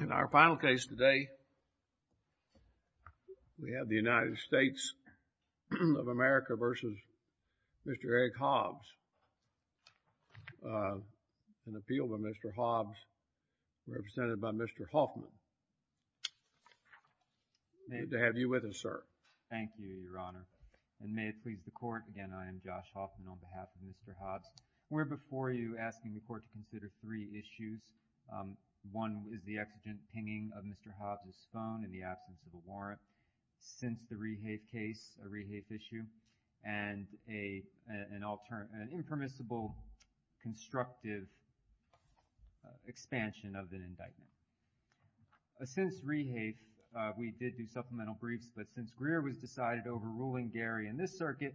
In our final case today, we have the United States of America v. Mr. Erick Hobbs. An appeal by Mr. Hobbs, represented by Mr. Hoffman. Good to have you with us, sir. Thank you, Your Honor. And may it please the Court, again, I am Josh Hoffman on behalf of Mr. Hobbs. We're before you asking the Court to consider three issues. One is the exigent pinging of Mr. Hobbs' phone in the absence of a warrant, since the Rehafe case, a Rehafe issue, and an impermissible constructive expansion of the indictment. Since Rehafe, we did do supplemental briefs, but since Greer was decided over ruling Gary in this circuit,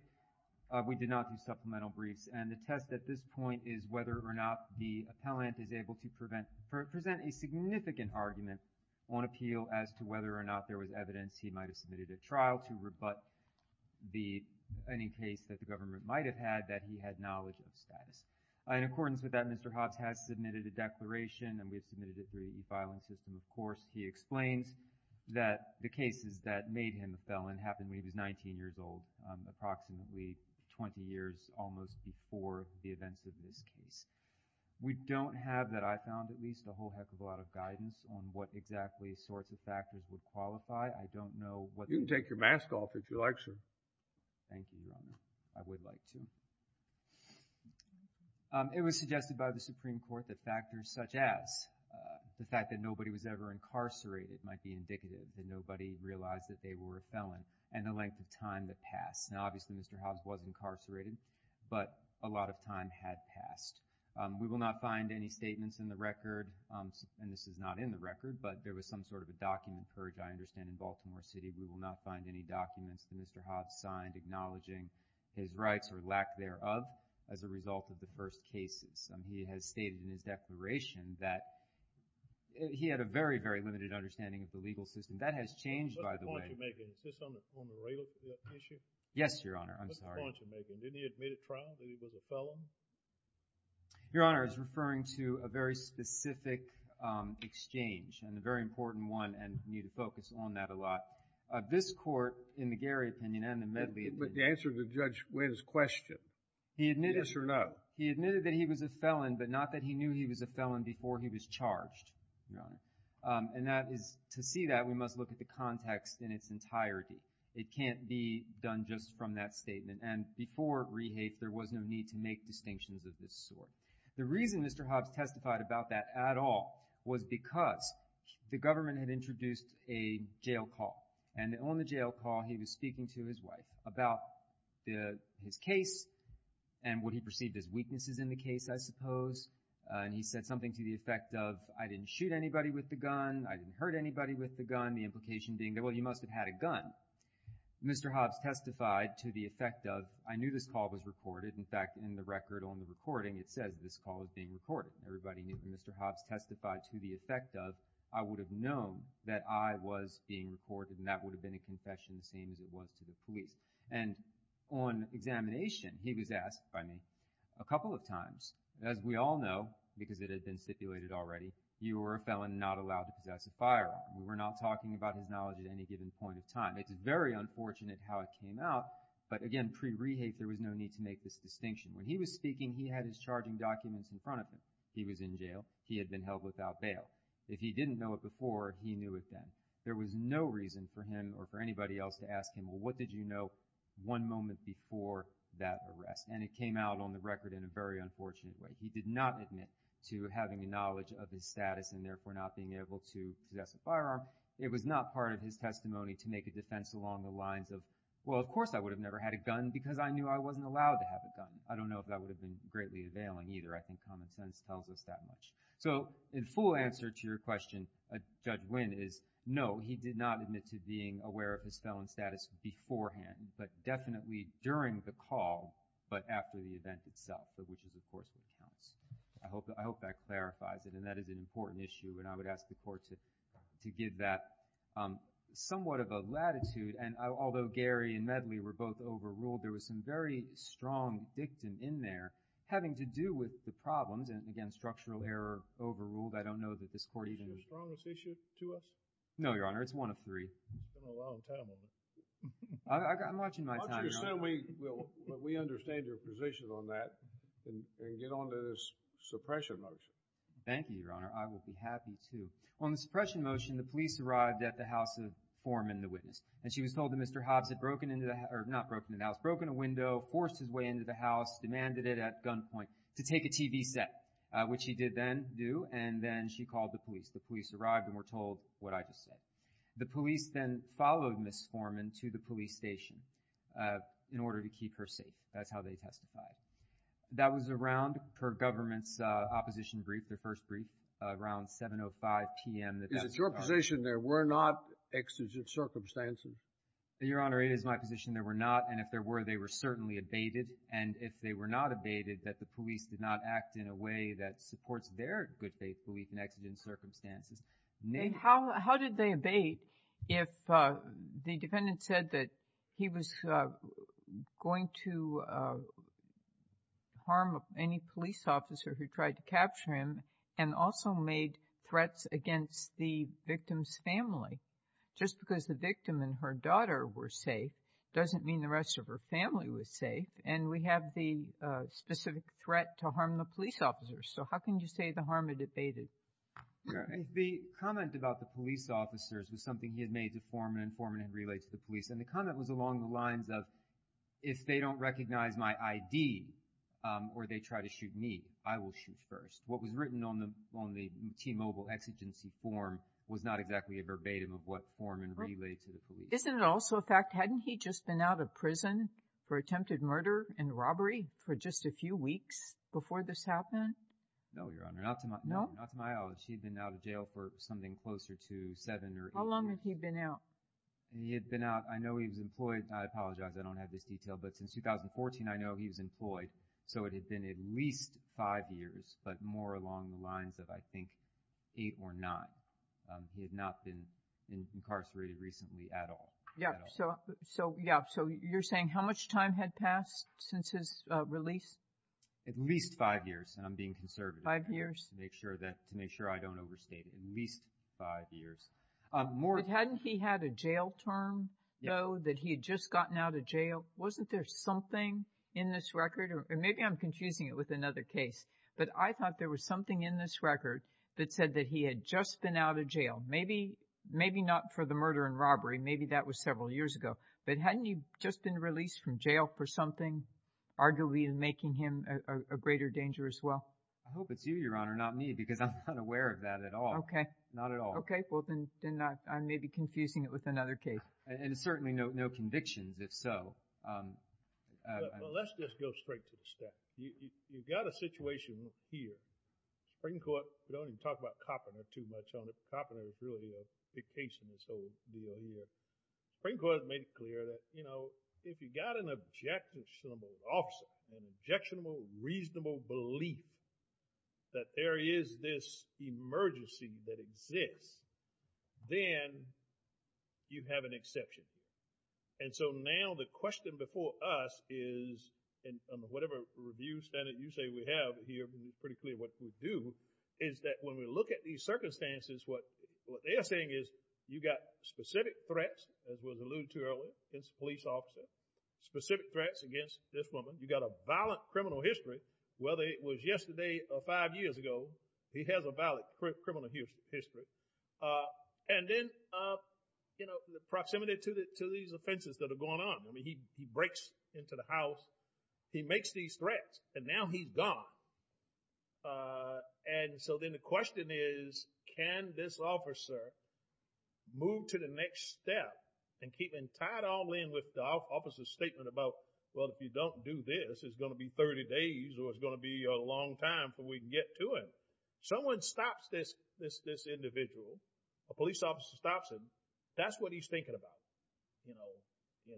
we did not do supplemental briefs. And the test at this point is whether or not the appellant is able to present a significant argument on appeal as to whether or not there was evidence he might have submitted at trial to rebut any case that the government might have had that he had knowledge of status. In accordance with that, Mr. Hobbs has submitted a declaration, and we have submitted it through the e-filing system, of course. He explains that the cases that made him a felon happened when he was 19 years old, approximately 20 years almost before the events of this case. We don't have, that I found, at least a whole heck of a lot of guidance on what exactly sorts of factors would qualify. I don't know what the... You can take your mask off if you like, sir. Thank you, Your Honor. I would like to. It was suggested by the Supreme Court that factors such as the fact that nobody was ever incarcerated might be indicative that nobody realized that they were a felon, and the length of time that passed. Now, obviously, Mr. Hobbs was incarcerated, but a lot of time had passed. We will not find any statements in the record, and this is not in the record, but there was some sort of a document purged, I understand, in Baltimore City. We will not find any documents that Mr. Hobbs signed acknowledging his rights or lack thereof as a result of the first cases. He has stated in his declaration that he had a very, very limited understanding of the legal system. That has changed, by the way. What's the point you're making? Is this on the regular issue? Yes, Your Honor. I'm sorry. What's the point you're making? Didn't he admit at trial that he was a felon? Your Honor, I was referring to a very specific exchange, and a very important one, and I need to focus on that a lot. This Court, in the Gary opinion and the Medley opinion... The answer to Judge Wynn's question, yes or no. He admitted that he was a felon, but not that he knew he was a felon before he was charged, and that is, to see that, we must look at the context in its entirety. It can't be done just from that statement, and before rehafe, there was no need to make distinctions of this sort. The reason Mr. Hobbs testified about that at all was because the government had introduced a jail call, and on the jail call, he was speaking to his wife about his case and what he perceived as weaknesses in the case, I suppose, and he said something to the effect of, I didn't shoot anybody with the gun, I didn't hurt anybody with the gun, the implication being that, well, you must have had a gun. Mr. Hobbs testified to the effect of, I knew this call was recorded. In fact, in the record on the recording, it says this call is being recorded. Everybody knew that Mr. Hobbs was being recorded, and that would have been a confession the same as it was to the police, and on examination, he was asked by me a couple of times, as we all know, because it had been stipulated already, you were a felon not allowed to possess a firearm. We were not talking about his knowledge at any given point in time. It's very unfortunate how it came out, but again, pre-rehafe, there was no need to make this distinction. When he was speaking, he had his charging documents in front of him. He was in jail. He had been held without bail. If he didn't know it before, he knew it then. There was no reason for him or for anybody else to ask him, well, what did you know one moment before that arrest? And it came out on the record in a very unfortunate way. He did not admit to having the knowledge of his status and therefore not being able to possess a firearm. It was not part of his testimony to make a defense along the lines of, well, of course I would have never had a gun because I knew I wasn't allowed to have a gun. I don't know if that would have been greatly availing either. I think common sense tells us that much. So in full answer to your question, Judge Wynn is, no, he did not admit to being aware of his felon status beforehand, but definitely during the call, but after the event itself, which is of course what counts. I hope that clarifies it, and that is an important issue, and I would ask the Court to give that somewhat of a latitude. And although Gary and Medley were both overruled, there was some very strong dictum in there having to do with the overruled. I don't know that this Court even... Is it the strongest issue to us? No, Your Honor. It's one of three. I've been around a long time. I'm watching my time, Your Honor. Why don't you just tell me, well, that we understand your position on that and get on to this suppression motion. Thank you, Your Honor. I will be happy to. On the suppression motion, the police arrived at the house of Foreman, the witness, and she was told that Mr. Hobbs had broken into the house, or not broken into the house, broken a window, forced his way into the house, demanded it at gunpoint to take a TV set, which he did then do, and then she called the police. The police arrived and were told what I just said. The police then followed Ms. Foreman to the police station in order to keep her safe. That's how they testified. That was around her government's opposition brief, their first brief, around 7.05 p.m. Is it your position there were not exigent circumstances? Your Honor, it is my position there were not, and if there were, they were certainly abated, and if they were not abated, that the police did not act in a way that supports their good faith belief in exigent circumstances. How did they abate if the defendant said that he was going to harm any police officer who tried to capture him and also made threats against the victim's family? Just because the victim and her daughter were safe doesn't mean the rest of her family was safe, and we have the specific threat to harm the police officers, so how can you say the harm abated? The comment about the police officers was something he had made to Foreman and Foreman had relayed to the police, and the comment was along the lines of if they don't recognize my ID or they try to shoot me, I will shoot first. What was written on the on the T-Mobile exigency form was not exactly a verbatim of what Foreman relayed to the police. Isn't it also a fact, hadn't he just been out of prison for attempted murder and robbery for just a few weeks before this happened? No, Your Honor, not to my knowledge. He'd been out of jail for something closer to seven or eight years. How long had he been out? He had been out, I know he was employed, I apologize I don't have this detail, but since 2014 I know he was employed, so it had been at least five years, but more along the lines of I think eight or nine. He had not been incarcerated recently at all. Yeah, so you're saying how much time had passed since his release? At least five years, and I'm being conservative. Five years. To make sure I don't overstate it, at least five years. Hadn't he had a jail term, though, that he had just gotten out of jail? Wasn't there something in this record, or maybe I'm confusing it with another case, but I thought there was something in this record that said that he had just been out of jail, maybe not for the murder and robbery, maybe that was several years ago, but hadn't he just been released from jail for something, arguably making him a greater danger as well? I hope it's you, Your Honor, not me, because I'm not aware of that at all. Okay. Not at all. Okay, well, then I'm maybe confusing it with another case. And certainly no convictions, if so. Well, let's just go straight to the stat. You've got a situation here, Supreme Court, we don't even talk about Koppner too much, Koppner is really a big case in this whole deal here. Supreme Court made it clear that, you know, if you got an objectionable officer, an objectionable, reasonable belief that there is this emergency that exists, then you have an exception. And so now the question before us is, and on whatever review standard you say we have here, pretty clear what we do, is that when we look at these circumstances, what they are saying is, you got specific threats, as was alluded to earlier, against a police officer, specific threats against this woman, you got a violent criminal history, whether it was yesterday or five years ago, he has a valid criminal history. And then, you know, the proximity to these offenses that are going on, he breaks into the house, he makes these threats, and now he's gone. And so then the question is, can this officer move to the next step and keep in tight arms with the officer's statement about, well, if you don't do this, it's going to be 30 days, or it's going to be a long time before we can get to him. Someone stops this individual, a police officer stops him, that's what he's thinking about, you know,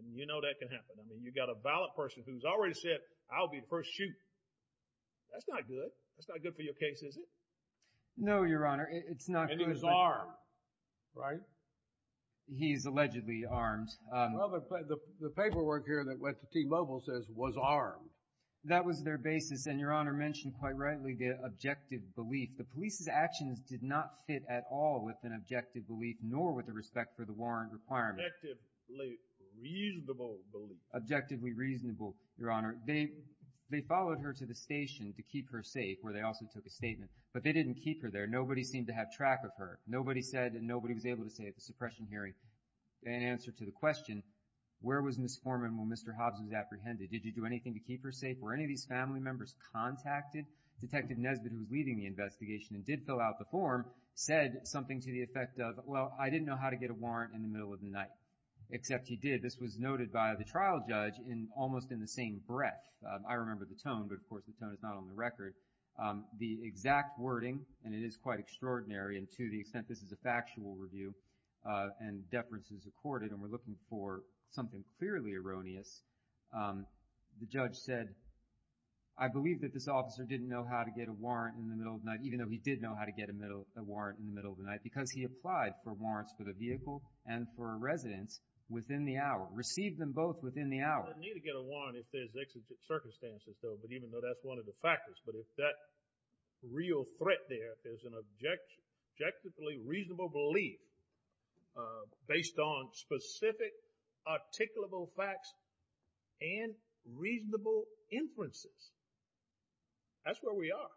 and you know that can happen. I mean, you got a violent person who's already said, I'll be the first to shoot. That's not good. That's not good for your case, is it? No, Your Honor, it's not. And he was armed, right? He's allegedly armed. Well, the paperwork here that went to T-Mobile says, was armed. That was their basis, and Your Honor mentioned quite rightly the objective belief. The police's at all with an objective belief, nor with a respect for the warrant requirement. Objectively reasonable belief. Objectively reasonable, Your Honor. They followed her to the station to keep her safe, where they also took a statement, but they didn't keep her there. Nobody seemed to have track of her. Nobody said, and nobody was able to say at the suppression hearing, an answer to the question, where was Ms. Forman when Mr. Hobbs was apprehended? Did you do anything to keep her safe? Were any of these family members contacted? Detective Nesbitt, who was leading the investigation and did fill out the form, said something to the effect of, well, I didn't know how to get a warrant in the middle of the night. Except he did. This was noted by the trial judge in, almost in the same breath. I remember the tone, but of course the tone is not on the record. The exact wording, and it is quite extraordinary, and to the extent this is a factual review, and deference is accorded, and we're looking for something clearly erroneous, the judge said, I believe that this know how to get a warrant in the middle of the night, because he applied for warrants for the vehicle and for a residence within the hour. Received them both within the hour. He doesn't need to get a warrant if there's executive circumstances, though, but even though that's one of the factors, but if that real threat there is an objectively reasonable belief based on specific articulable facts and reasonable inferences, that's where we are.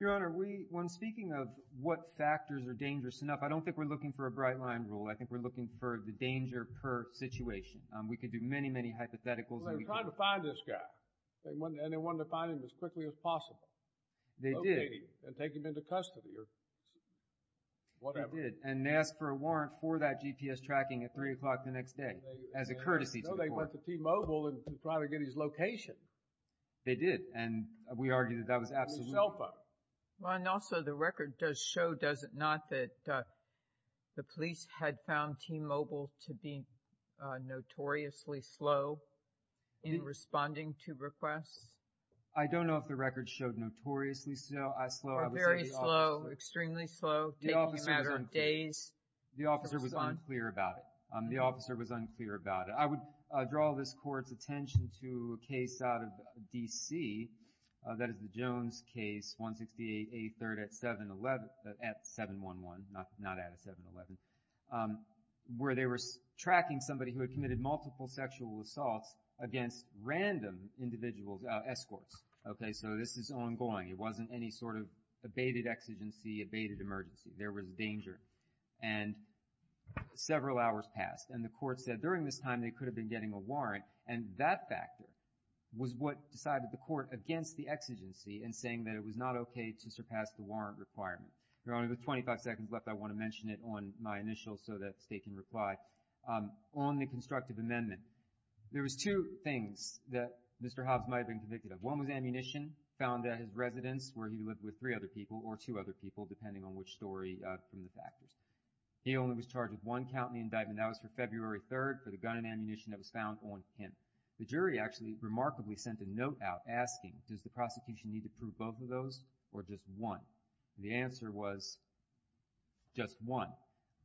Your Honor, we, when speaking of what factors are dangerous enough, I don't think we're looking for a bright line rule. I think we're looking for the danger per situation. We could do many, many hypotheticals. They were trying to find this guy, and they wanted to find him as quickly as possible. They did. And take him into custody or whatever. They did, and they asked for a warrant for that GPS tracking at 3 o'clock the next day, as a courtesy to the court. So they went to T-Mobile and tried to get his location. They did, and we argue that that was absolutely self-evident. Well, and also the record does show, does it not, that the police had found T-Mobile to be notoriously slow in responding to requests? I don't know if the record showed notoriously slow. Or very slow, extremely slow, taking a matter of days. The officer was unclear about it. The officer was unclear about it. I would draw this court's attention to a case out of D.C., that is the Jones case, 168A3rd at 7-11, not at a 7-11, where they were tracking somebody who had committed multiple sexual assaults against random individuals, escorts. Okay, so this is ongoing. It wasn't any sort of abated exigency, abated emergency. There was danger. And several hours passed, and the court said during this time they could have been getting a warrant, and that factor was what decided the court against the exigency in saying that it was not okay to surpass the warrant requirement. There are only about 25 seconds left. I want to mention it on my initial so that State can reply. On the constructive amendment, there was two things that Mr. Hobbs might have been convicted of. One was ammunition, found at his residence, where he lived with three other people, or two other people, depending on which story from the factors. He only was charged with one count in the indictment. That was for February 3rd for the gun and ammunition that was found on him. The jury actually remarkably sent a note out asking, does the prosecution need to prove both of those, or just one? The answer was just one.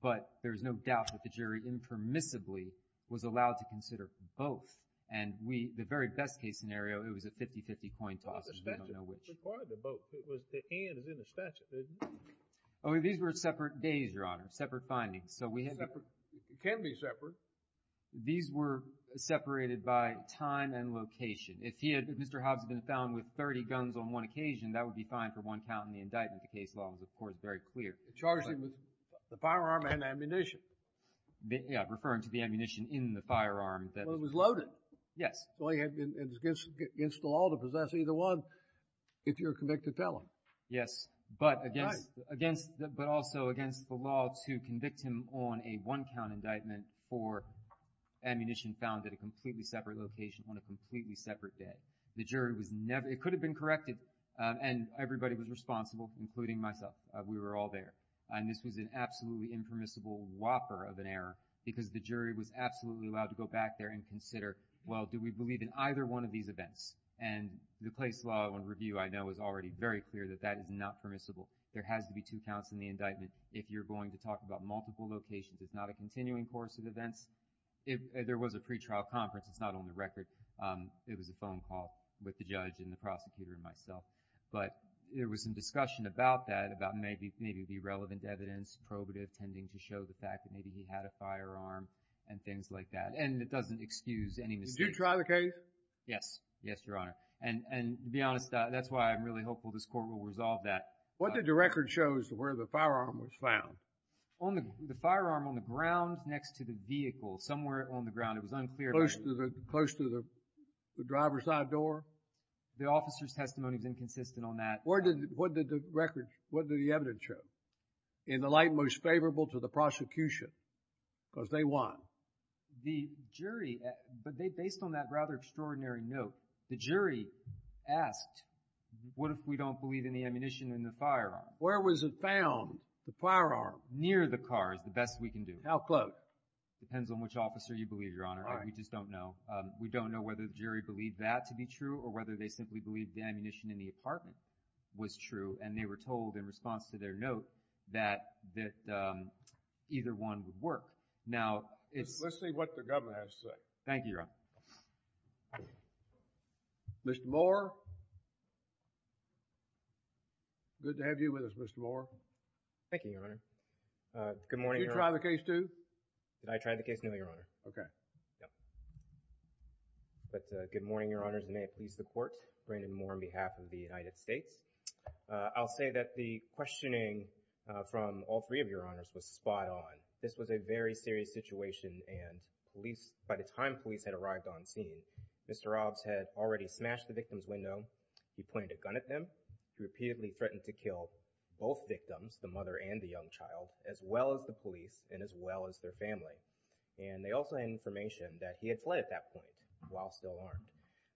But there's no doubt that the jury impermissibly was allowed to consider both. And we, the very best case scenario, it was a 50-50 coin toss. It was part of the boat. The hand was in the statue. Oh, these were separate days, Your Honor. Separate findings. Separate. It can be separate. These were separated by time and location. If Mr. Hobbs had been found with 30 guns on one occasion, that would be fine for one count in the indictment. The case law was, of course, very clear. Charged him with the firearm and ammunition. Yeah, referring to the ammunition in the firearm. Well, it was loaded. Yes. And it's against the law to possess either one if you're convicted felon. Yes, but also against the law to convict him on a one-count indictment for ammunition found at a completely separate location on a completely separate day. The jury was never, it could have been corrected, and everybody was responsible, including myself. We were all there. And this was an absolutely impermissible whopper of an error because the jury was absolutely allowed to go back there and consider, well, do we believe in either one of these events? And the case law and review, I know, is already very clear that that is not permissible. There has to be two counts in the indictment if you're going to talk about multiple locations. It's not a continuing course of events. There was a pretrial conference. It's not on the record. It was a phone call with the judge and the prosecutor and myself. But there was some discussion about that, about maybe the irrelevant evidence, probative, tending to show the fact that maybe he had a firearm and things like that. And it doesn't excuse any mistake. Did you try the case? Yes. Yes, Your Honor. And to be honest, that's why I'm really hopeful this Court will resolve that. What did the record show as to where the firearm was found? On the, the firearm on the ground next to the vehicle, somewhere on the ground. It was unclear. Close to the, close to the driver's side door? The officer's testimony is inconsistent on that. Where did, what did the record, what did the evidence show? In the light most favorable to the prosecution because they won. The jury, but they, based on that rather extraordinary note, the jury asked, what if we don't believe in the ammunition in the firearm? Where was it found, the firearm? Near the car is the best we can do. How close? Depends on which officer you believe, Your Honor. All right. We just don't know. We don't know whether the jury believed that to be true or whether they simply believed the ammunition in the apartment was true. And they were told in response to their note that, that either one would work. Now, it's... Let's see what the government has to say. Thank you, Your Honor. Mr. Moore. Good to have you with us, Mr. Moore. Thank you, Your Honor. Good morning, Your Honor. Did you try the case too? Did I try the case? No, Your Honor. Okay. Yeah. But good morning, Your Honors, and may it please the Court. Brandon Moore on behalf of the United States. I'll say that the questioning from all three of Your Honors was spot on. This was a very serious situation and police, by the time police had arrived on scene, Mr. Hobbs had already smashed the victim's window. He pointed a gun at them. He repeatedly threatened to kill both victims, the mother and the young child, as well as the police and as well as their family. And they also had information that he had fled at that point while still armed.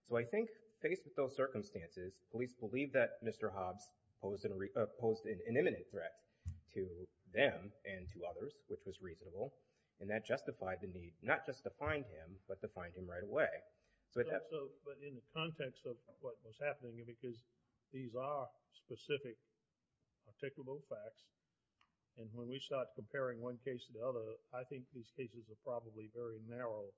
So I think, faced with those circumstances, police believe that Mr. Hobbs posed an imminent threat to them and to others, which was reasonable. And that justified the need, not just to find him, but to find him right away. So— But in the context of what was happening, because these are specific, articulable facts, and when we start comparing one case to the other, I think these cases are probably very narrow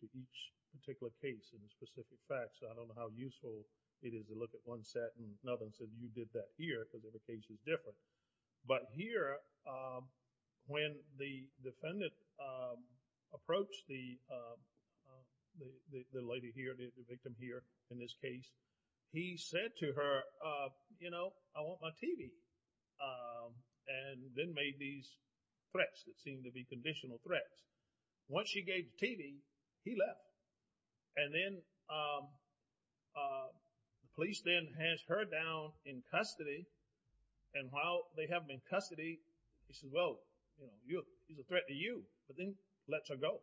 to each particular case and specific facts. I don't know how useful it is to look at one set and another and say, you did that here because the case is different. But here, when the defendant approached the lady here, the victim here in this case, he said to her, you know, I want my TV. And then made these threats that seemed to be conditional threats. Once she gave the TV, he left. And then the police then hands her down in custody. And while they have her in custody, he says, well, you know, it's a threat to you. But then lets her go.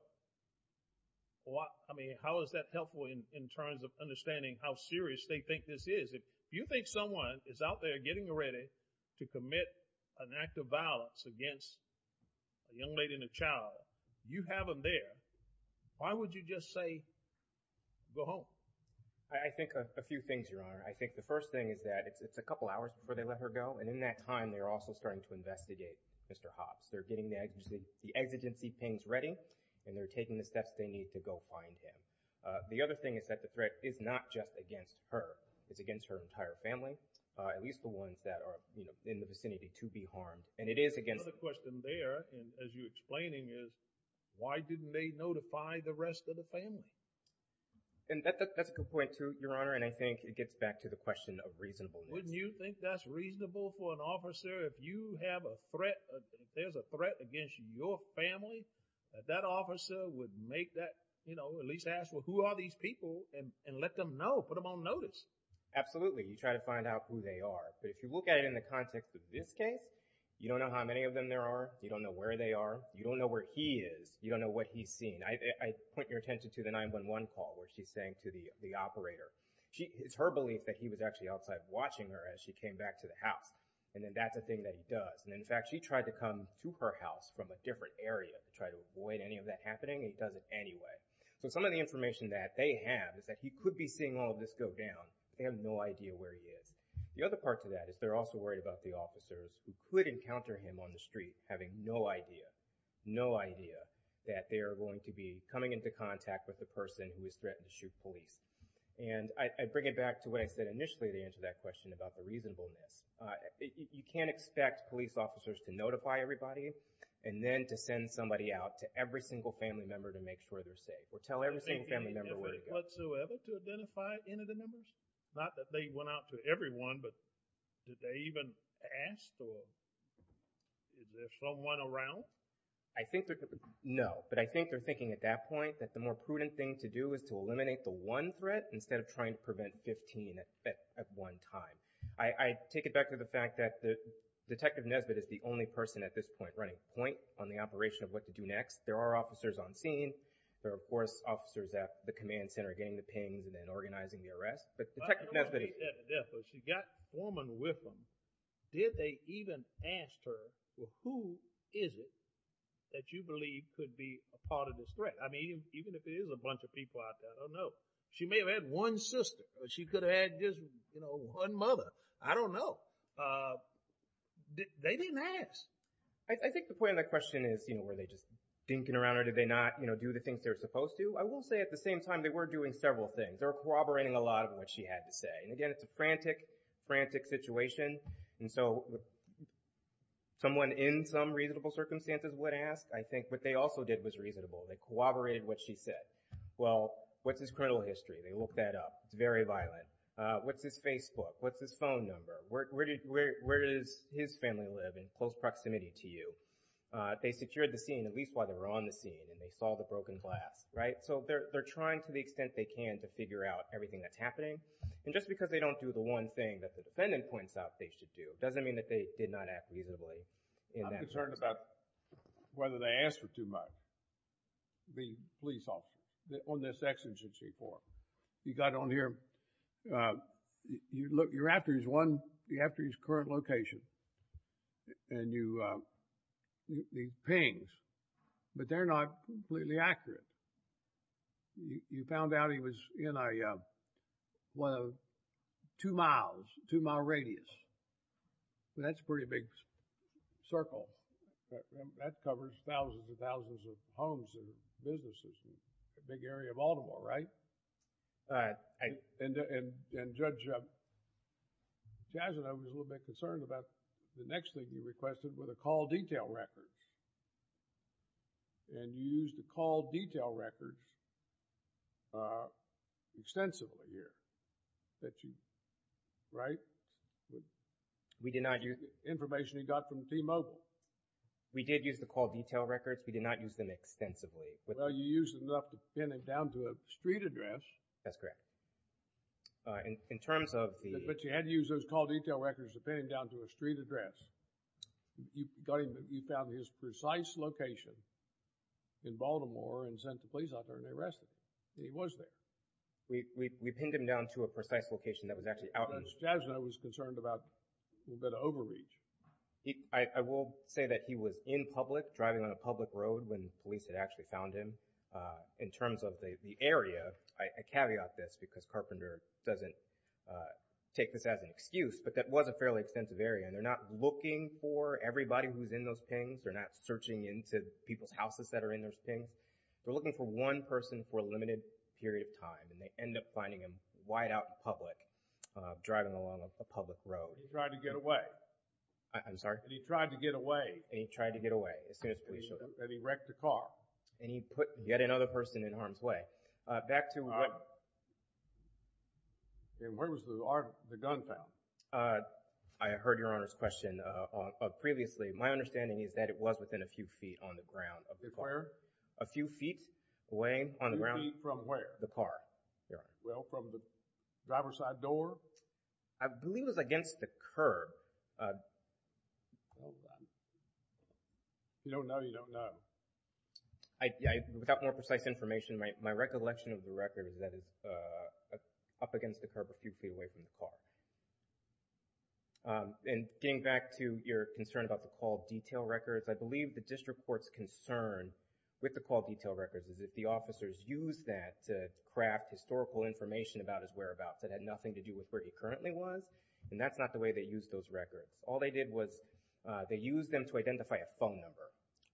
I mean, how is that helpful in terms of understanding how serious they think this is? If you think someone is out there getting ready to commit an act of violence against a young lady and a child, you have them there. Why would you just say, go home? I think a few things, Your Honor. I think the first thing is that it's a couple hours before they let her go. And in that time, they're also starting to investigate Mr. Hopps. They're getting the exigency pings ready and they're taking the steps they need to go find him. The other thing is that the threat is not just against her. It's against her entire family, at least the ones that are in the vicinity to be harmed. And it is against— The question there, as you're explaining, is why didn't they notify the rest of the family? And that's a good point too, Your Honor. And I think it gets back to the question of reasonableness. Wouldn't you think that's reasonable for an officer if you have a threat, if there's a threat against your family, that that officer would make that, you know, at least ask, well, who are these people and let them know, put them on notice? Absolutely. You try to find out who they are. But if you look at it in the context of this case, you don't know how many of them there are. You don't know where they are. You don't know where he is. You don't know what he's seen. I point your attention to the 911 call where she's saying to the operator, it's her belief that he was actually outside watching her as she came back to the house. And then that's a thing that he does. And in fact, she tried to come to her house from a different area to try to avoid any of that happening. He does it anyway. So some of the information that they have is that he could be seeing all of this go down. They have no idea where he is. The other part to that is they're also worried about the officers who could encounter him on the street having no idea, no idea that they are going to be coming into contact with the person who is threatened to shoot police. And I bring it back to what I said initially to answer that question about the reasonableness. You can't expect police officers to notify everybody and then to send somebody out to every single family member to make sure they're safe or tell every single family member where to go. Did they do that whatsoever to identify any of the members? Not that they went out to everyone, but did they even ask or is there someone around? I think that, no. But I think they're thinking at that point that the more prudent thing to do is to eliminate the one threat instead of trying to prevent 15 at one time. I take it back to the fact that Detective Nesbitt is the only person at this point running point on the operation of what to do next. There are officers on scene. There are, of course, officers at the command center getting the pings and then organizing the arrest. But Detective Nesbitt... I don't know if he's dead or dead, but she's got a woman with him. Did they even ask her, well, who is it that you believe could be a part of this threat? I mean, even if it is a bunch of people out there, I don't know. She may have had one sister, but she could have had just, you know, one mother. I don't know. They didn't ask. I think the point of the question is, you know, were they just dinking around or did they not, you know, do the things they're supposed to? I will say at the same time, they were doing several things. They were corroborating a lot of what she had to say. And again, it's a frantic, frantic situation. And so someone in some reasonable circumstances would ask. I think what they also did was reasonable. They corroborated what she said. Well, what's his criminal history? They looked that up. It's very violent. What's his Facebook? What's his phone number? Where does his family live in close proximity to you? They secured the scene, at least while they were on the scene, and they saw the broken glass, right? So they're trying to the extent they can to figure out everything that's happening. And just because they don't do the one thing that the defendant points out they should do doesn't mean that they did not act reasonably in that instance. I'm concerned about whether they asked for too much, being police officers, on this exigency court. You got on here. You look, you're after his one, you're after his current location. And you, he pings. But they're not completely accurate. You found out he was in a, well, two miles, two mile radius. That's a pretty big circle. That covers thousands and thousands of homes and businesses, a big area of Baltimore, right? Uh, I... And, and, and Judge, uh, Jazza, I was a little bit concerned about the next thing you requested were the call detail records. And you used the call detail records, uh, extensively here that you, right? We did not use... Information he got from T-Mobile. We did use the call detail records. We did not use them extensively. Well, you used enough to pin him down to a street address. That's correct. Uh, in, in terms of the... But you had to use those call detail records to pin him down to a street address. You got him, you found his precise location in Baltimore and sent the police out there and arrested him. He was there. We, we, we pinned him down to a precise location that was actually out in... Judge Jazza was concerned about a little bit of overreach. I, I will say that he was in public, driving on a public road when police had actually found him. Uh, in terms of the, the area, I, I caveat this because Carpenter doesn't, uh, take this as an excuse, but that was a fairly extensive area. They're not looking for everybody who's in those pings. They're not searching into people's houses that are in those pings. They're looking for one person for a limited period of time and they end up finding him wide out in public, uh, driving along a public road. And he tried to get away. I, I'm sorry? And he tried to get away. And he tried to get away as soon as police showed up. And he wrecked the car. And he put yet another person in harm's way. Uh, back to... Uh, and where was the, the gun found? Uh, I heard Your Honor's question, uh, on, uh, previously. My understanding is that it was within a few feet on the ground of the car. Where? A few feet away on the ground... A few feet from where? The car. Well, from the driver's side door? I believe it was against the curb. Uh, hold on. You don't know, you don't know. I, I, without more precise information, my, my recollection of the record is that it's, uh, up against the curb a few feet away from the car. Um, and getting back to your concern about the call detail records, I believe the district court's concern with the call detail records is that the officers used that to craft historical information about his whereabouts that had nothing to do with where he currently was. And that's not the way they used those records. All they did was, uh, they used them to identify a phone number.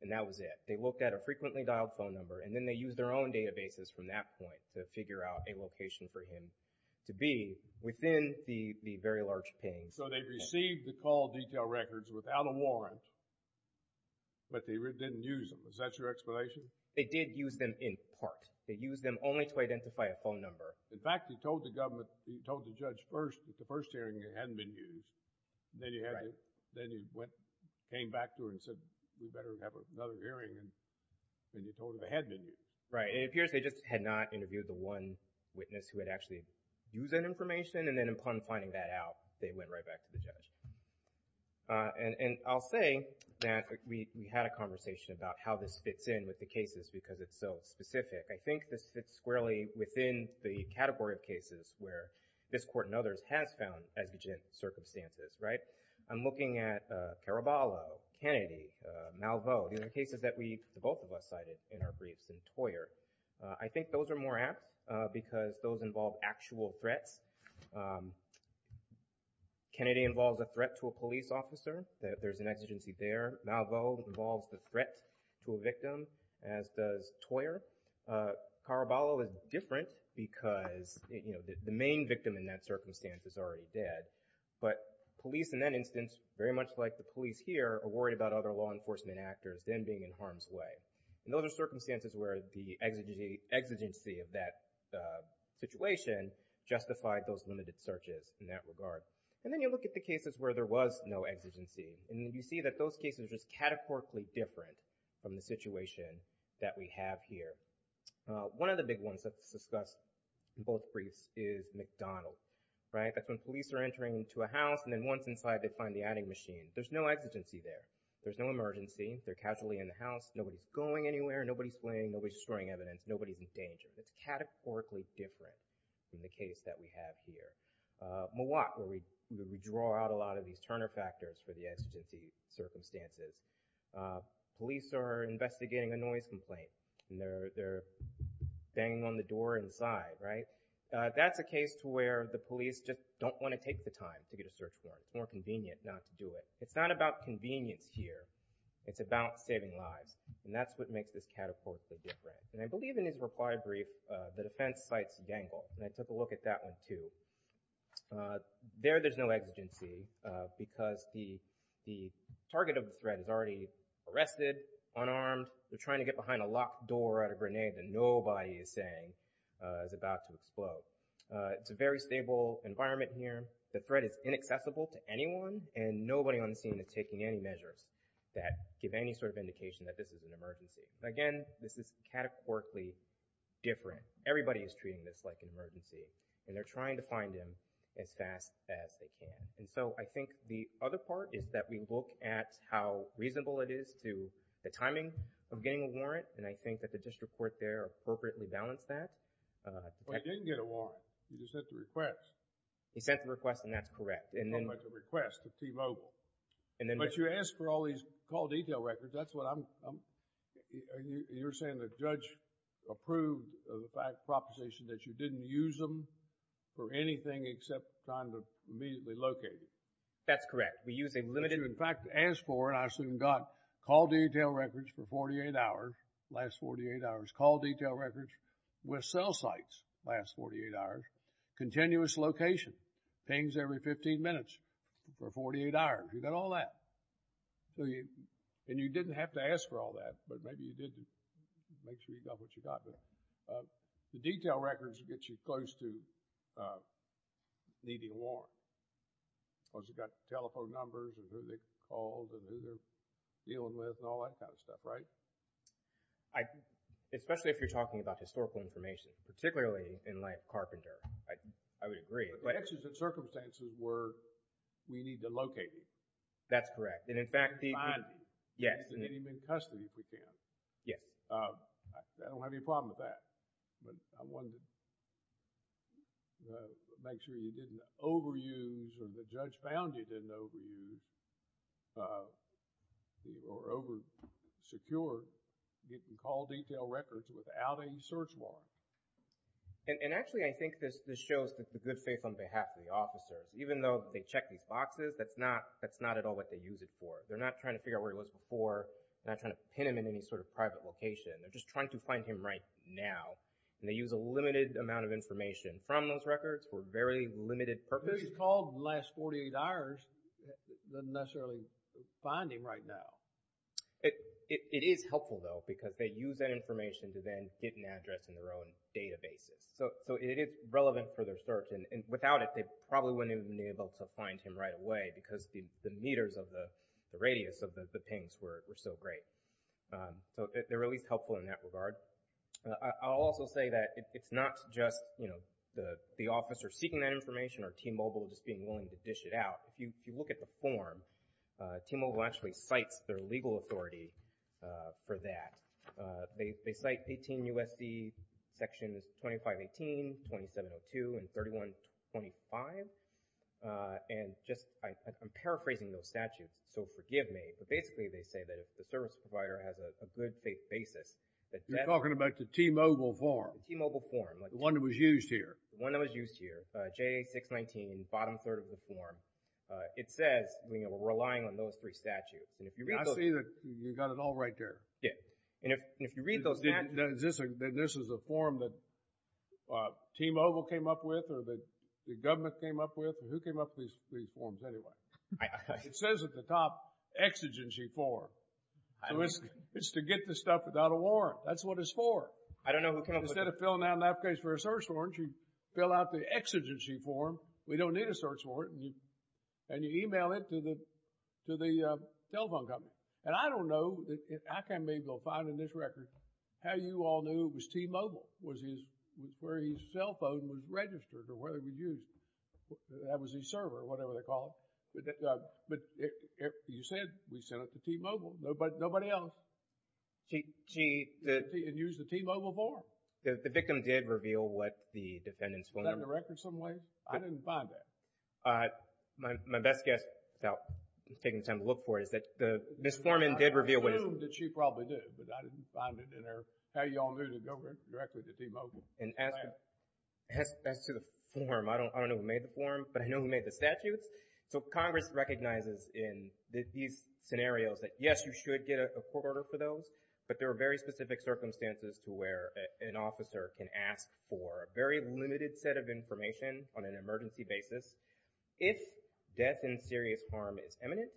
And that was it. They looked at a frequently dialed phone number and then they used their own databases from that point to figure out a location for him to be within the, the very large ping. So they received the call detail records without a warrant, but they didn't use them. Is that your explanation? They did use them in part. They used them only to identify a phone number. In fact, he told the government, he told the judge first that the first hearing hadn't been used. Then he had to, then he went, came back to her and said, we better have another hearing. And then he told her they had been used. Right. It appears they just had not interviewed the one witness who had actually used that information. And then upon finding that out, they went right back to the judge. And, and I'll say that we, we had a conversation about how this fits in with the cases because it's so specific. I think this fits squarely within the category of cases where this court and others has found exigent circumstances, right? I'm looking at Caraballo, Kennedy, Malveaux, the other cases that we, the both of us cited in our briefs and Toyer. I think those are more apt because those involve actual threats. Kennedy involves a threat to a police officer, that there's an exigency there. Malveaux involves the threat to a victim, as does Toyer. Caraballo is different because, you know, the main victim in that circumstance is already dead. But police in that instance, very much like the police here, are worried about other law enforcement actors then being in harm's way. And those are circumstances where the exigency, exigency of that situation justified those limited searches in that regard. And then you look at the cases where there was no exigency, and you see that those cases are just categorically different from the situation that we have here. One of the big ones that's discussed in both briefs is McDonald, right? That's when police are entering into a house, and then once inside, they find the adding machine. There's no exigency there. There's no emergency. They're casually in the house. Nobody's going anywhere. Nobody's fleeing. Nobody's destroying evidence. Nobody's in danger. It's categorically different from the case that we have here. Mowat, where we draw out a lot of these Turner factors for the exigency circumstances. Police are investigating a noise complaint, and they're banging on the door inside, right? That's a case to where the police just don't want to take the time to get a search warrant. It's more convenient not to do it. It's not about convenience here. It's about saving lives, and that's what makes this categorically different. And I believe in his reply brief, the defense sites dangle, and I took a look at that one, too. There, there's no exigency because the target of the threat is already arrested, unarmed. They're trying to get behind a locked door at a grenade that nobody is saying is about to explode. It's a very stable environment here. The threat is inaccessible to anyone, and nobody on the scene is taking any measures that give any sort of indication that this is an emergency. Again, this is categorically different. Everybody is treating this like an emergency, and they're trying to find him as fast as they can. And so I think the other part is that we look at how reasonable it is to the timing of getting a warrant, and I think that the district court there appropriately balanced that. Well, he didn't get a warrant. He just sent the request. He sent the request, and that's correct. Not quite the request, the T-Mobile. But you asked for all these call detail records. That's what I'm, you're saying the judge approved of the fact, proposition that you didn't use them for anything except trying to immediately locate him. That's correct. We use a limited... In fact, asked for, and I assume got call detail records for 48 hours, last 48 hours, call detail records with cell sites, last 48 hours, continuous location, pings every 15 minutes for 48 hours. You've got all that. So you, and you didn't have to ask for all that, but maybe you did make sure you got what you got there. The detail records get you close to needing a warrant, because you've got telephone numbers and who they called and who they're dealing with and all that kind of stuff, right? I, especially if you're talking about historical information, particularly in light of Carpenter, I, I would agree, but... But that's just the circumstances where we need to locate him. That's correct. And in fact, the... Find him. Yes. And get him in custody if we can. Yes. I don't have any problem with that. But I wanted to make sure you didn't overuse or the judge found you didn't overuse or oversecure getting call detail records without a search warrant. And, and actually I think this, this shows the good faith on behalf of the officers. Even though they check these boxes, that's not, that's not at all what they use it for. They're not trying to figure out where he was before. They're not trying to pin him in any sort of private location. They're just trying to find him right now. And they use a limited amount of information from those records for very limited purposes. Who he's called in the last 48 hours doesn't necessarily find him right now. It is helpful though because they use that information to then get an address in their own databases. So, so it is relevant for their search. And, and without it, they probably wouldn't have been able to find him right away because the, the meters of the, the radius of the, the pings were, were so great. So they're at least helpful in that regard. I'll also say that it's not just, you know, the, the officer seeking that information or T-Mobile just being willing to dish it out. If you, if you look at the form, T-Mobile actually cites their legal authority for that. They, they cite 18 U.S.C. Sections 2518, 2702, and 3125. And just, I, I'm paraphrasing those statutes, so forgive me. But basically they say that if the service provider has a, a good faith basis that— You're talking about the T-Mobile form. The T-Mobile form. The one that was used here. The one that was used here, JA-619, the bottom third of the form. It says, you know, we're relying on those three statutes. And if you read those— I see that you got it all right there. Yeah. And if, and if you read those— Is this a, this is a form that T-Mobile came up with or that the government came up with? Who came up with these, these forms anyway? It says at the top, exigency form. It's to get the stuff without a warrant. That's what it's for. I don't know who came up with— You fill out the exigency form. We don't need a search warrant. And you email it to the, to the telephone company. And I don't know, I can't be able to find in this record how you all knew it was T-Mobile was his, was where his cell phone was registered or where it was used. That was his server or whatever they call it. But you said we sent it to T-Mobile. Nobody, nobody else. T, T, the— It used the T-Mobile form. The victim did reveal what the defendant's phone number— Is that in the record some way? I didn't find that. My best guess, without taking the time to look for it, is that the, Ms. Forman did reveal what his— I assumed that she probably did, but I didn't find it in her, how you all knew to go directly to T-Mobile. And as to, as to the form, I don't, I don't know who made the form, but I know who made the statutes. So Congress recognizes in these scenarios that yes, you should get a court order for those, but there are very specific circumstances to where an officer can ask for a very limited set of information on an emergency basis if death in serious harm is imminent.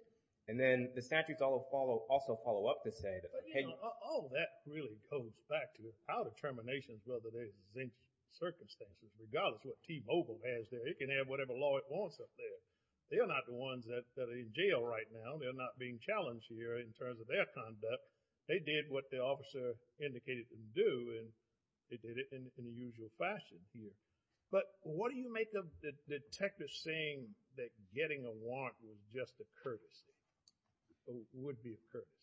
And then the statutes all follow, also follow up to say that— But you know, all that really goes back to the power determinations, whether there's any circumstances. Regardless what T-Mobile has there, it can have whatever law it wants up there. They are not the ones that are in jail right now. They're not being challenged here in terms of their conduct. They did what the officer indicated they would do, and they did it in the usual fashion here. But what do you make of the detective saying that getting a warrant was just a courtesy, would be a courtesy?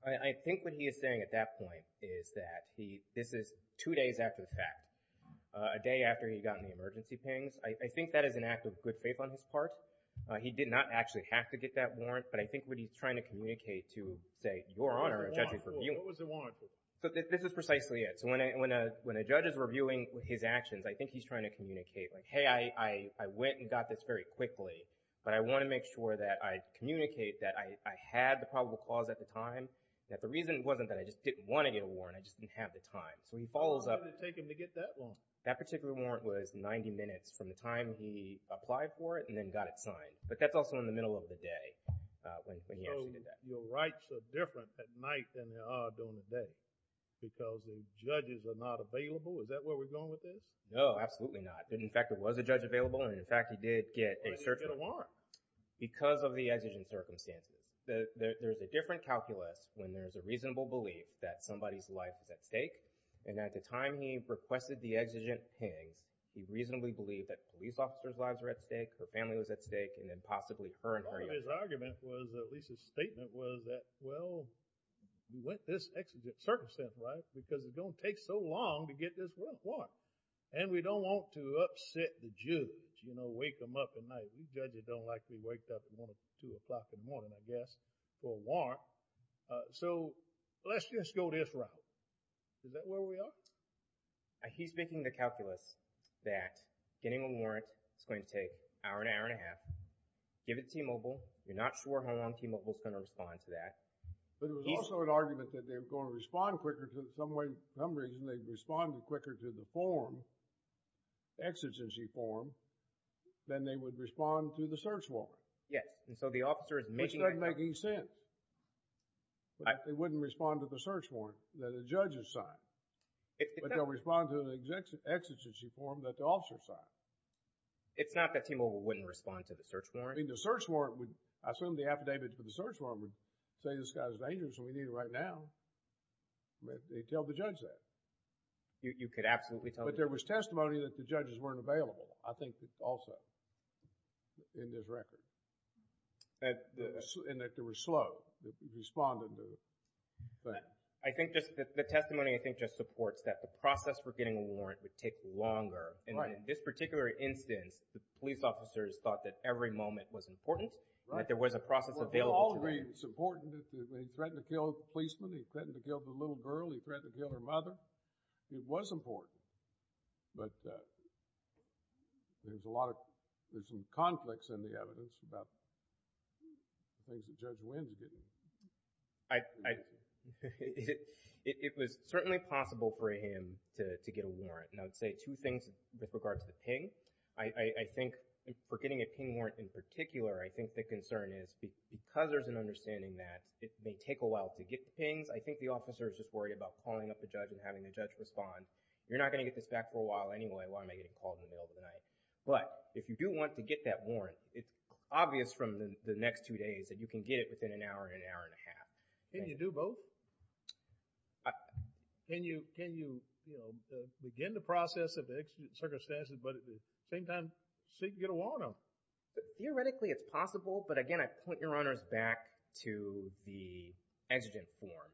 I think what he is saying at that point is that he— this is two days after the fact, a day after he'd gotten the emergency pings. I think that is an act of good faith on his part. He did not actually have to get that warrant, but I think what he's trying to communicate to say, your Honor, a judge is reviewing— What was the warrant for? So this is precisely it. So when a judge is reviewing his actions, I think he's trying to communicate like, hey, I went and got this very quickly, but I want to make sure that I communicate that I had the probable cause at the time, that the reason wasn't that I just didn't want to get a warrant, I just didn't have the time. So he follows up— How long did it take him to get that warrant? That particular warrant was 90 minutes from the time he applied for it and then got it signed. But that's also in the middle of the day. When he actually did that. Your rights are different at night than they are during the day because the judges are not available. Is that where we're going with this? No, absolutely not. In fact, there was a judge available, and in fact, he did get a warrant. Because of the exigent circumstances. There's a different calculus when there's a reasonable belief that somebody's life is at stake, and at the time he requested the exigent pings, he reasonably believed that police officers' lives were at stake, her family was at stake, and then possibly her and her— His argument was, at least his statement was that, well, we went this exigent circumstance, right? Because it's going to take so long to get this warrant. And we don't want to upset the judge, you know, wake him up at night. You judges don't like to be waked up at one or two o'clock in the morning, I guess, for a warrant. So let's just go this route. Is that where we are? He's making the calculus that getting a warrant is going to take an hour, an hour and a half. Give it to T-Mobile. You're not sure how long T-Mobile's going to respond to that. But it was also an argument that they were going to respond quicker to, some way, some reason, they'd respond quicker to the form, exigency form, than they would respond to the search warrant. Yes, and so the officer is making— Which doesn't make any sense. They wouldn't respond to the search warrant that a judge has signed. But they'll respond to an exigency form that the officer signed. It's not that T-Mobile wouldn't respond to the search warrant. I mean, the search warrant would—I assume the affidavits for the search warrant would say this guy's dangerous and we need him right now. They'd tell the judge that. You could absolutely tell the judge. But there was testimony that the judges weren't available, I think, also, in this record. And that they were slow in responding to the thing. I think just the testimony, I think, just supports that the process for getting a warrant would take longer. And in this particular instance, the police officers thought that every moment was important, that there was a process available to them. Well, for all of me, it's important. He threatened to kill a policeman. He threatened to kill the little girl. He threatened to kill her mother. It was important. But there's a lot of—there's some conflicts in the evidence about the things that Judge Winsgate did. It was certainly possible for him to get a warrant. I'd say two things with regard to the ping. For getting a ping warrant in particular, I think the concern is, because there's an understanding that it may take a while to get the pings, I think the officer is just worried about calling up the judge and having the judge respond. You're not going to get this back for a while anyway. Why am I getting called in the middle of the night? But if you do want to get that warrant, it's obvious from the next two days that you can get it within an hour, an hour and a half. Can you do both? Can you, you know, begin the process of the exigent circumstances but at the same time seek to get a warrant on them? Theoretically, it's possible. But again, I'd point your honors back to the exigent form.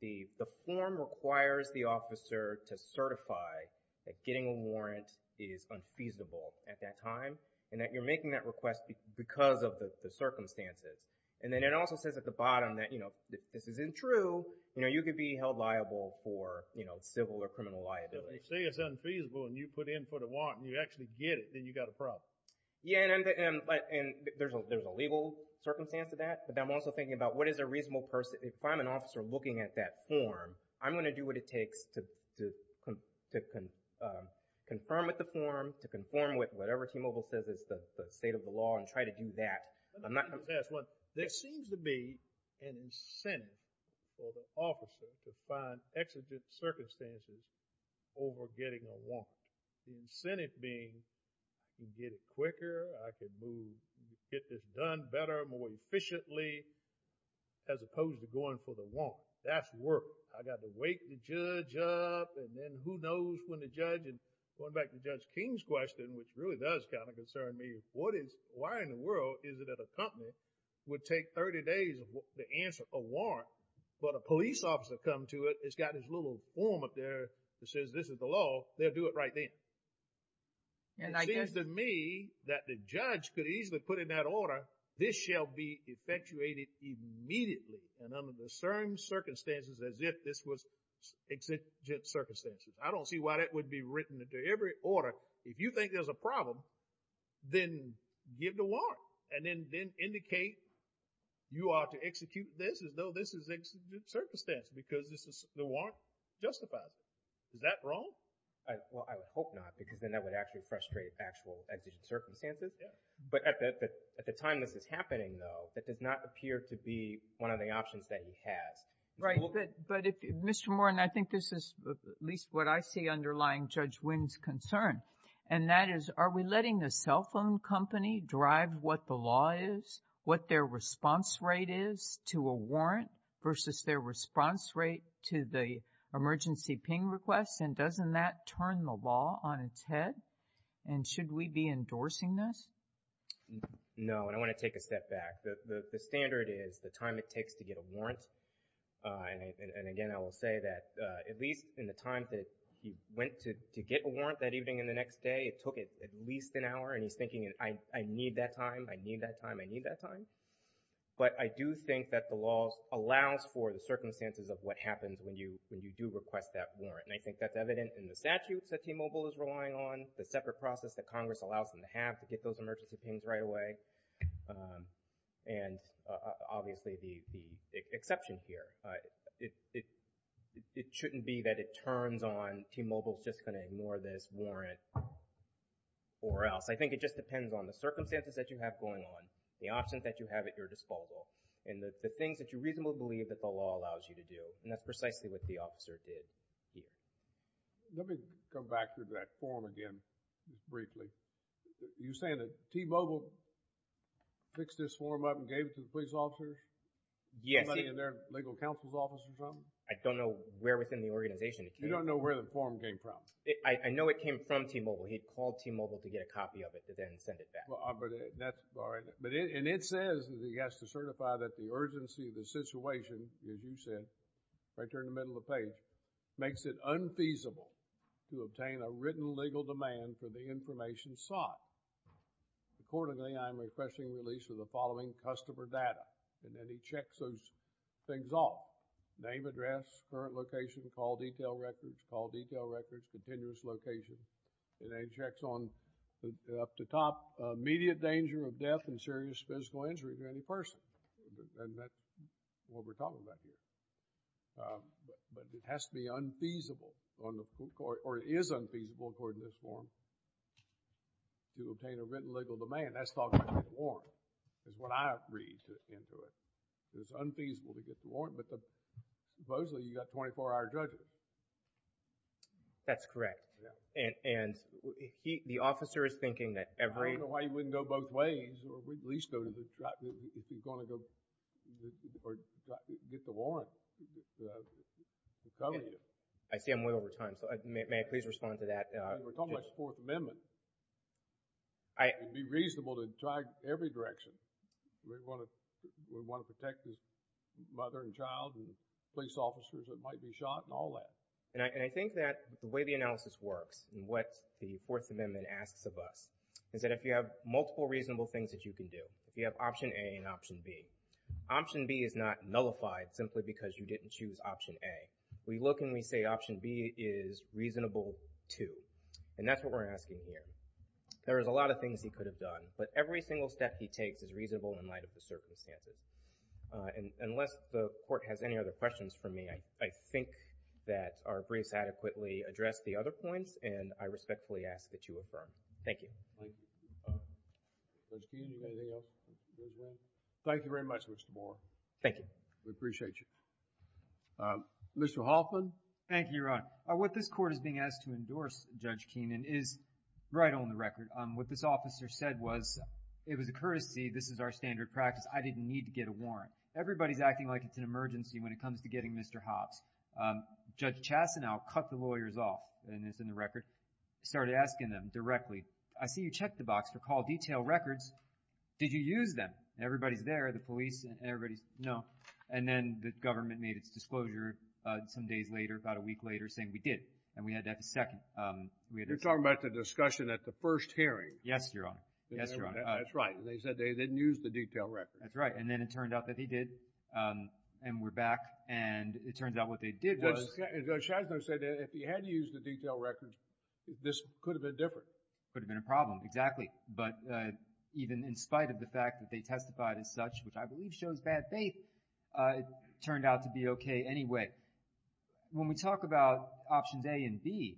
The form requires the officer to certify that getting a warrant is unfeasible at that time and that you're making that request because of the circumstances. And then it also says at the bottom that, you know, this isn't true, you know, you could be held liable for, you know, civil or criminal liability. If they say it's unfeasible and you put in for the warrant and you actually get it, then you got a problem. Yeah, and there's a legal circumstance to that. But I'm also thinking about what is a reasonable person, if I'm an officer looking at that form, I'm going to do what it takes to confirm with the form, to conform with whatever T-Mobile says is the state of the law and try to do that. I'm not— Let me just ask one. There seems to be an incentive for the officer to find exigent circumstances over getting a warrant. The incentive being, you get it quicker, I can move, get this done better, more efficiently, as opposed to going for the warrant. That's work. I got to wake the judge up and then who knows when the judge, and going back to Judge King's question, which really does kind of concern me, what is, why in the world is it that a company would take 30 days to answer a warrant, but a police officer come to it, it's got this little form up there that says this is the law, they'll do it right then. And it seems to me that the judge could easily put in that order, this shall be effectuated immediately and under the same circumstances as if this was exigent circumstances. I don't see why that would be written into every order. If you think there's a problem, then give the warrant, and then indicate you are to execute this as though this is exigent circumstances because the warrant justifies it. Is that wrong? Well, I would hope not, because then that would actually frustrate actual exigent circumstances. But at the time this is happening, though, that does not appear to be one of the options that he has. Right, but Mr. Moore, and I think this is at least what I see underlying Judge Wynn's concern, and that is, are we letting the cell phone company drive what the law is, what their response rate is to a warrant versus their response rate to the emergency ping request, and doesn't that turn the law on its head? And should we be endorsing this? No, and I want to take a step back. The standard is the time it takes to get a warrant, and again, I will say that at least in the time that he went to get a warrant that evening and the next day, it took at least an hour, and he's thinking, I need that time, I need that time, I need that time. But I do think that the law allows for the circumstances of what happens when you do request that warrant, and I think that's evident in the statutes that T-Mobile is relying on, the separate process that Congress allows them to have to get those emergency pings right away, and obviously the exception here. It shouldn't be that it turns on, T-Mobile is just going to ignore this warrant or else. I think it just depends on the circumstances that you have going on, the options that you have at your disposal, and the things that you reasonably believe that the law allows you to do, and that's precisely what the officer did here. Let me go back to that form again briefly. You're saying that T-Mobile fixed this form up and gave it to the police officers? Yes. Somebody in their legal counsel's office or something? I don't know where within the organization. You don't know where the form came from? I know it came from T-Mobile. He called T-Mobile to get a copy of it and then send it back. And it says that he has to certify that the urgency of the situation, as you said, right there in the middle of the page, makes it unfeasible to obtain a written legal demand for the information sought. Accordingly, I'm requesting release of the following customer data, and then he checks those things off, name, address, current location, call detail records, call detail records, continuous location, and then he checks on the up-to-top immediate danger of death and serious physical injury to any person. And that's what we're talking about here. But it has to be unfeasible on the court, or it is unfeasible, according to this form, to obtain a written legal demand. That's talking about a warrant, is what I read into it. It's unfeasible to get the warrant, but supposedly you've got 24-hour judges. That's correct. Yeah. And the officer is thinking that every... I don't know why you wouldn't go both ways, or at least go to the... if you're going to go or get the warrant. I see I'm way over time, so may I please respond to that? We're talking about the Fourth Amendment. I... It would be reasonable to try every direction. We want to protect his mother and child and police officers that might be shot and all that. And I think that the way the analysis works and what the Fourth Amendment asks of us is that if you have multiple reasonable things that you can do, if you have option A and option B, option B is not nullified simply because you didn't choose option A. We look and we say option B is reasonable, too. And that's what we're asking here. There is a lot of things he could have done, but every single step he takes is reasonable in light of the circumstances. Unless the Court has any other questions for me, I think that our briefs adequately address the other points and I respectfully ask that you affirm. Thank you. Thank you. Judge Keenan, anything else? Thank you very much, Mr. Moore. Thank you. We appreciate you. Mr. Hoffman. Thank you, Your Honor. What this Court is being asked to endorse, Judge Keenan, is right on the record. What this officer said was it was a courtesy. This is our standard practice. I didn't need to get a warrant. Everybody's acting like it's an emergency when it comes to getting Mr. Hopps. Judge Chastanow cut the lawyers off, and it's in the record, started asking them directly, I see you checked the box for call detail records. Did you use them? Everybody's there, the police and everybody's, no. And then the government made its disclosure some days later, about a week later, saying we did. And we had that the second. You're talking about the discussion at the first hearing. Yes, Your Honor. Yes, Your Honor. That's right. They said they didn't use the detail records. That's right. And then it turned out that they did, and we're back. And it turns out what they did was... Judge Chastanow said that if he had used the detail records, this could have been different. Could have been a problem, exactly. But even in spite of the fact that they testified as such, which I believe shows bad faith, it turned out to be okay anyway. When we talk about options A and B,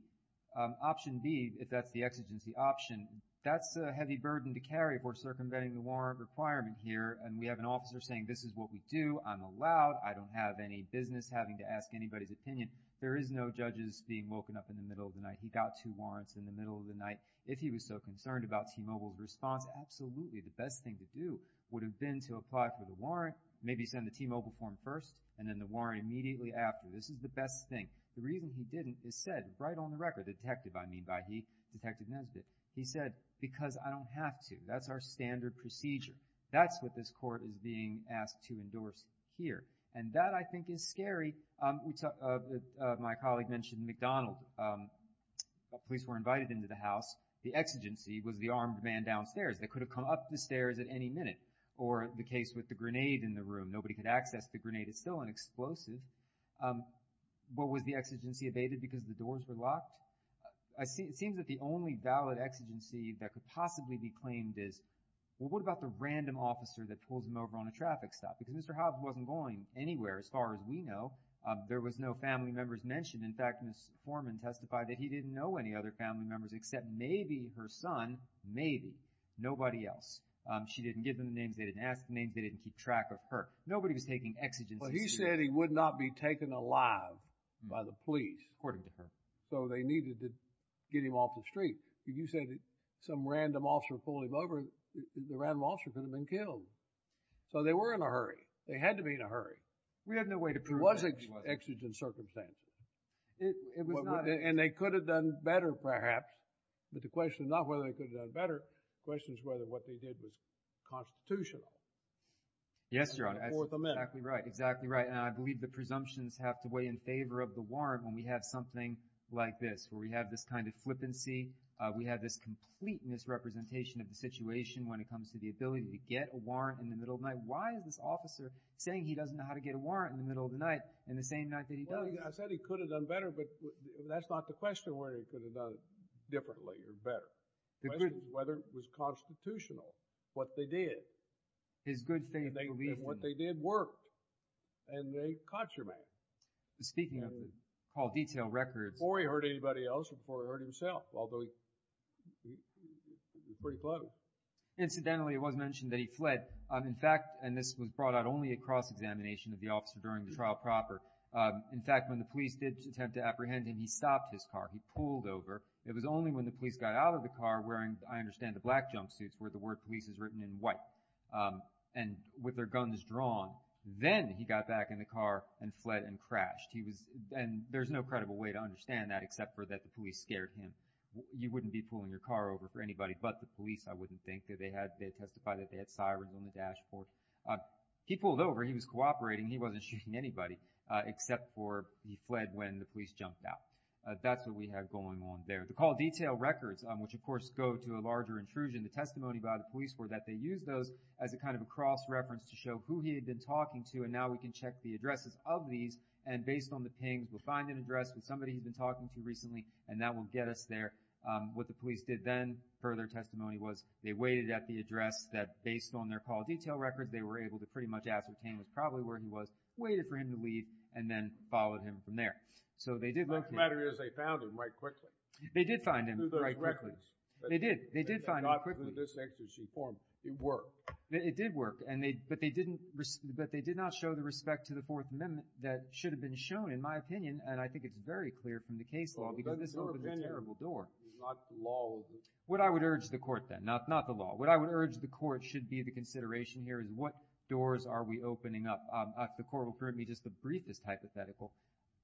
option B, if that's the exigency option, that's a heavy burden to carry if we're circumventing the warrant requirement here. And we have an officer saying, this is what we do. I'm allowed. I don't have any business having to ask anybody's opinion. There is no judges being woken up in the middle of the night. He got two warrants in the middle of the night. If he was so concerned about T-Mobile's response, absolutely the best thing to do would have been to apply for the warrant, maybe send the T-Mobile form first, and then the warrant immediately after. This is the best thing. The reason he didn't is said right on the record. By detective, I mean by he, Detective Nesbitt. He said, because I don't have to. That's our standard procedure. That's what this court is being asked to endorse here. And that, I think, is scary. My colleague mentioned McDonald. Police were invited into the house. The exigency was the armed man downstairs. They could have come up the stairs at any minute. Or the case with the grenade in the room. Nobody could access the grenade. It's still an explosive. But was the exigency evaded because the doors were locked? It seems that the only valid exigency that could possibly be claimed is, well, what about the random officer that pulls him over on a traffic stop? Because Mr. Hobbs wasn't going anywhere, as far as we know. There was no family members mentioned. In fact, Mr. Foreman testified that he didn't know any other family members except maybe her son. Maybe. Nobody else. She didn't give them the names. They didn't ask the names. They didn't keep track of her. Nobody was taking exigency. Well, he said he would not be taken alive by the police. So they needed to get him off the street. You said some random officer pulled him over. The random officer could have been killed. So they were in a hurry. They had to be in a hurry. We had no way to prove that. It was an exigent circumstance. And they could have done better, perhaps. But the question is not whether they could have done better. The question is whether what they did was constitutional. Yes, Your Honor. Fourth Amendment. Exactly right. And I believe the presumptions have to weigh in favor of the warrant when we have something like this, where we have this kind of flippancy. We have this complete misrepresentation of the situation when it comes to the ability to get a warrant in the middle of the night. Why is this officer saying he doesn't know how to get a warrant in the middle of the night in the same night that he does? I said he could have done better, but that's not the question where he could have done it differently or better. The question is whether it was constitutional, what they did. His good faith belief. What they did worked. And they caught your man. Speaking of call detail records. Before he hurt anybody else or before he hurt himself, although he was pretty clever. Incidentally, it was mentioned that he fled. In fact, and this was brought out only at cross-examination of the officer during the trial proper. In fact, when the police did attempt to apprehend him, he stopped his car. He pulled over. It was only when the police got out of the car wearing, I understand, the black junk suits where the word police is written in white and with their guns drawn. Then he got back in the car and fled and crashed. He was, and there's no credible way to understand that except for that the police scared him. You wouldn't be pulling your car over for anybody, but the police, I wouldn't think that they had, they testified that they had sirens on the dashboard. He pulled over, he was cooperating. He wasn't shooting anybody except for he fled when the police jumped out. That's what we have going on there. The call detail records, which of course go to a larger intrusion. The testimony by the police were that they used those as a kind of a cross-reference to show who he had been talking to. And now we can check the addresses of these and based on the pings, we'll find an address with somebody he's been talking to recently and that will get us there. What the police did then, further testimony was they waited at the address that based on their call detail records, they were able to pretty much ascertain was probably where he was, waited for him to leave and then followed him from there. So they did- The fact of the matter is they found him right quickly. They did find him right quickly. They did. They did find him quickly. They got to the distinction she formed. It worked. It did work. But they did not show the respect to the Fourth Amendment that should have been shown in my opinion. And I think it's very clear from the case law because this opened a terrible door. Your opinion is not the law. What I would urge the court then, not the law. What I would urge the court should be the consideration here is what doors are we opening up? If the court will permit me just to brief this hypothetical,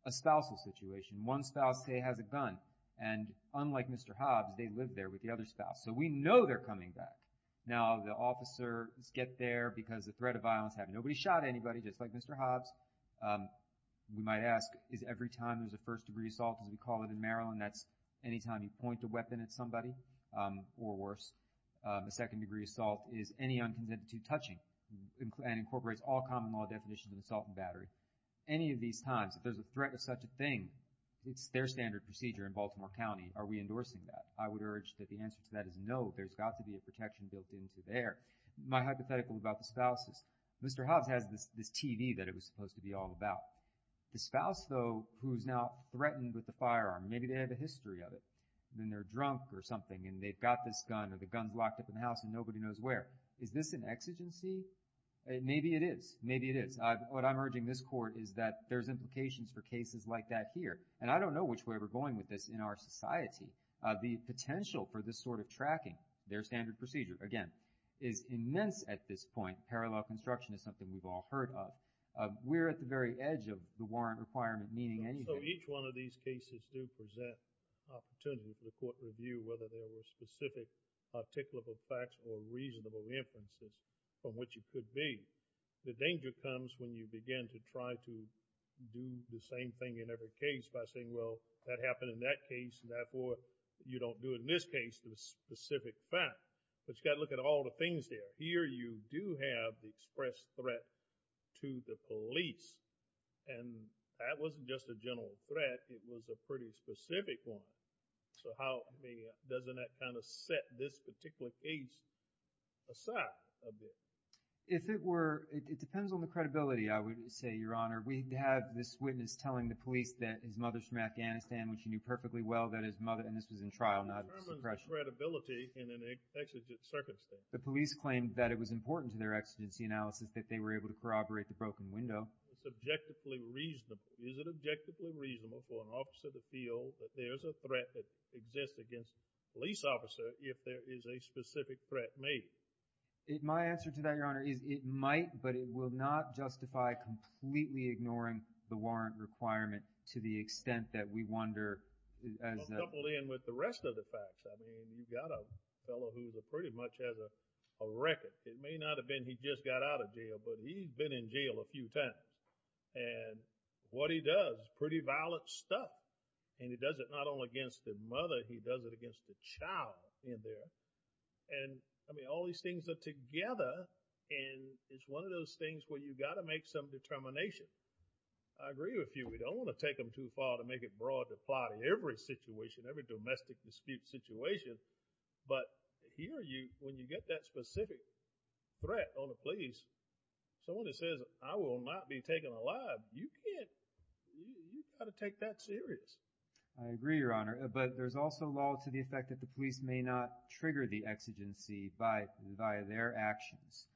a spousal situation. One spouse, say, has a gun and unlike Mr. Hobbs, they lived there with the other spouse. So we know they're coming back. Now the officers get there because the threat of violence, nobody shot anybody just like Mr. Hobbs. We might ask is every time there's a first degree assault, as we call it in Maryland, that's anytime you point a weapon at somebody or worse. A second degree assault is any unconsent to touching and incorporates all common law definitions of assault and battery. Any of these times, if there's a threat of such a thing, it's their standard procedure in Baltimore County. Are we endorsing that? I would urge that the answer to that is no. There's got to be a protection built into there. My hypothetical about the spouse is Mr. Hobbs has this TV that it was supposed to be all about. The spouse, though, who's now threatened with a firearm, maybe they have a history of it. Then they're drunk or something and they've got this gun or the gun's locked up in the house and nobody knows where. Is this an exigency? Maybe it is. Maybe it is. What I'm urging this court is that there's implications for cases like that here and I don't know which way we're going with this in our society. The potential for this sort of tracking, their standard procedure, again, is immense at this point. Parallel construction is something we've all heard of. We're at the very edge of the warrant requirement meaning anything. So each one of these cases do present opportunities for the court review whether there were specific articulable facts or reasonable inferences from which it could be. The danger comes when you begin to try to do the same thing in every case by saying, well, that happened in that case and therefore you don't do in this case the specific fact. But you've got to look at all the things there. Here you do have the express threat to the police and that wasn't just a general threat, it was a pretty specific one. So how, I mean, doesn't that kind of set this particular case aside a bit? If it were, it depends on the credibility, I would say, Your Honor. We have this witness telling the police that his mother's from Afghanistan which he knew perfectly well, and this was in trial, not suppression. Determine the credibility in an exigent circumstance. The police claimed that it was important to their exigency analysis that they were able to corroborate the broken window. It's objectively reasonable. Is it objectively reasonable for an officer to feel that there's a threat that exists against a police officer if there is a specific threat made? My answer to that, Your Honor, is it might but it will not justify completely ignoring the warrant requirement to the extent that we wonder as a couple in with the rest of the facts. I mean, you got a fellow who pretty much has a record. It may not have been he just got out of jail but he's been in jail a few times and what he does, pretty violent stuff and he does it not only against the mother, he does it against the child in there and I mean, all these things are together and it's one of those things where you got to make some determination. I agree with you. We don't want to take them too far to make it broad to apply to every situation, every domestic dispute situation but here you, when you get that specific threat on the police, someone that says, I will not be taken alive, you can't, you got to take that serious. I agree, Your Honor, but there's also law to the effect that the police may not trigger the exigency by their actions.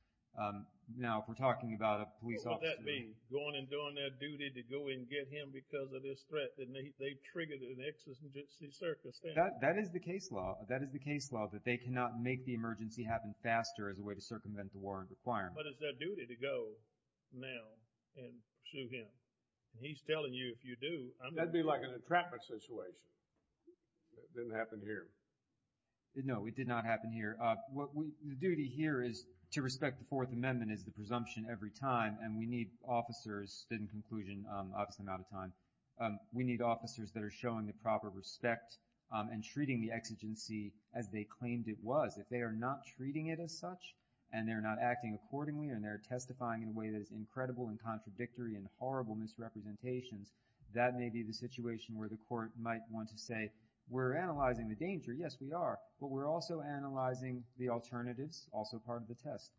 Now, if we're talking about a police officer. What would that mean? Going and doing their duty to go and get him because of this threat and they triggered an exigency circumstance. That is the case law, that is the case law that they cannot make the emergency happen faster as a way to circumvent the warrant requirement. But it's their duty to go now and sue him. He's telling you if you do. That'd be like a traffic situation. That didn't happen here. No, it did not happen here. The duty here is to respect the Fourth Amendment is the presumption every time and we need officers stood in conclusion obviously I'm out of time. We need officers that are showing the proper respect and treating the exigency as they claimed it was. If they are not treating it as such and they're not acting accordingly and they're testifying in a way that is incredible and contradictory and horrible misrepresentations, that may be the situation where the court might want to say, we're analyzing the danger. Yes, we are, but we're also analyzing the alternatives. Also part of the test,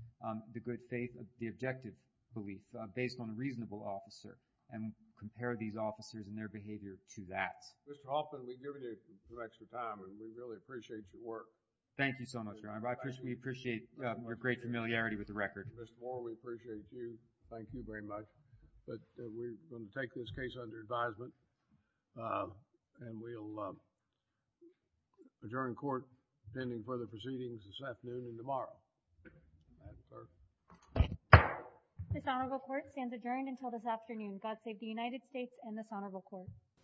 the good faith, the objective belief based on a reasonable officer. And compare these officers and their behavior to that. Mr. Hoffman, we've given you some extra time and we really appreciate your work. Thank you so much, Your Honor. We appreciate your great familiarity with the record. Mr. Moore, we appreciate you. Thank you very much. But we're going to take this case under advisement and we'll adjourn court pending further proceedings this afternoon and tomorrow. May I have the clerk? This honorable court stands adjourned until this afternoon. God save the United States and this honorable court.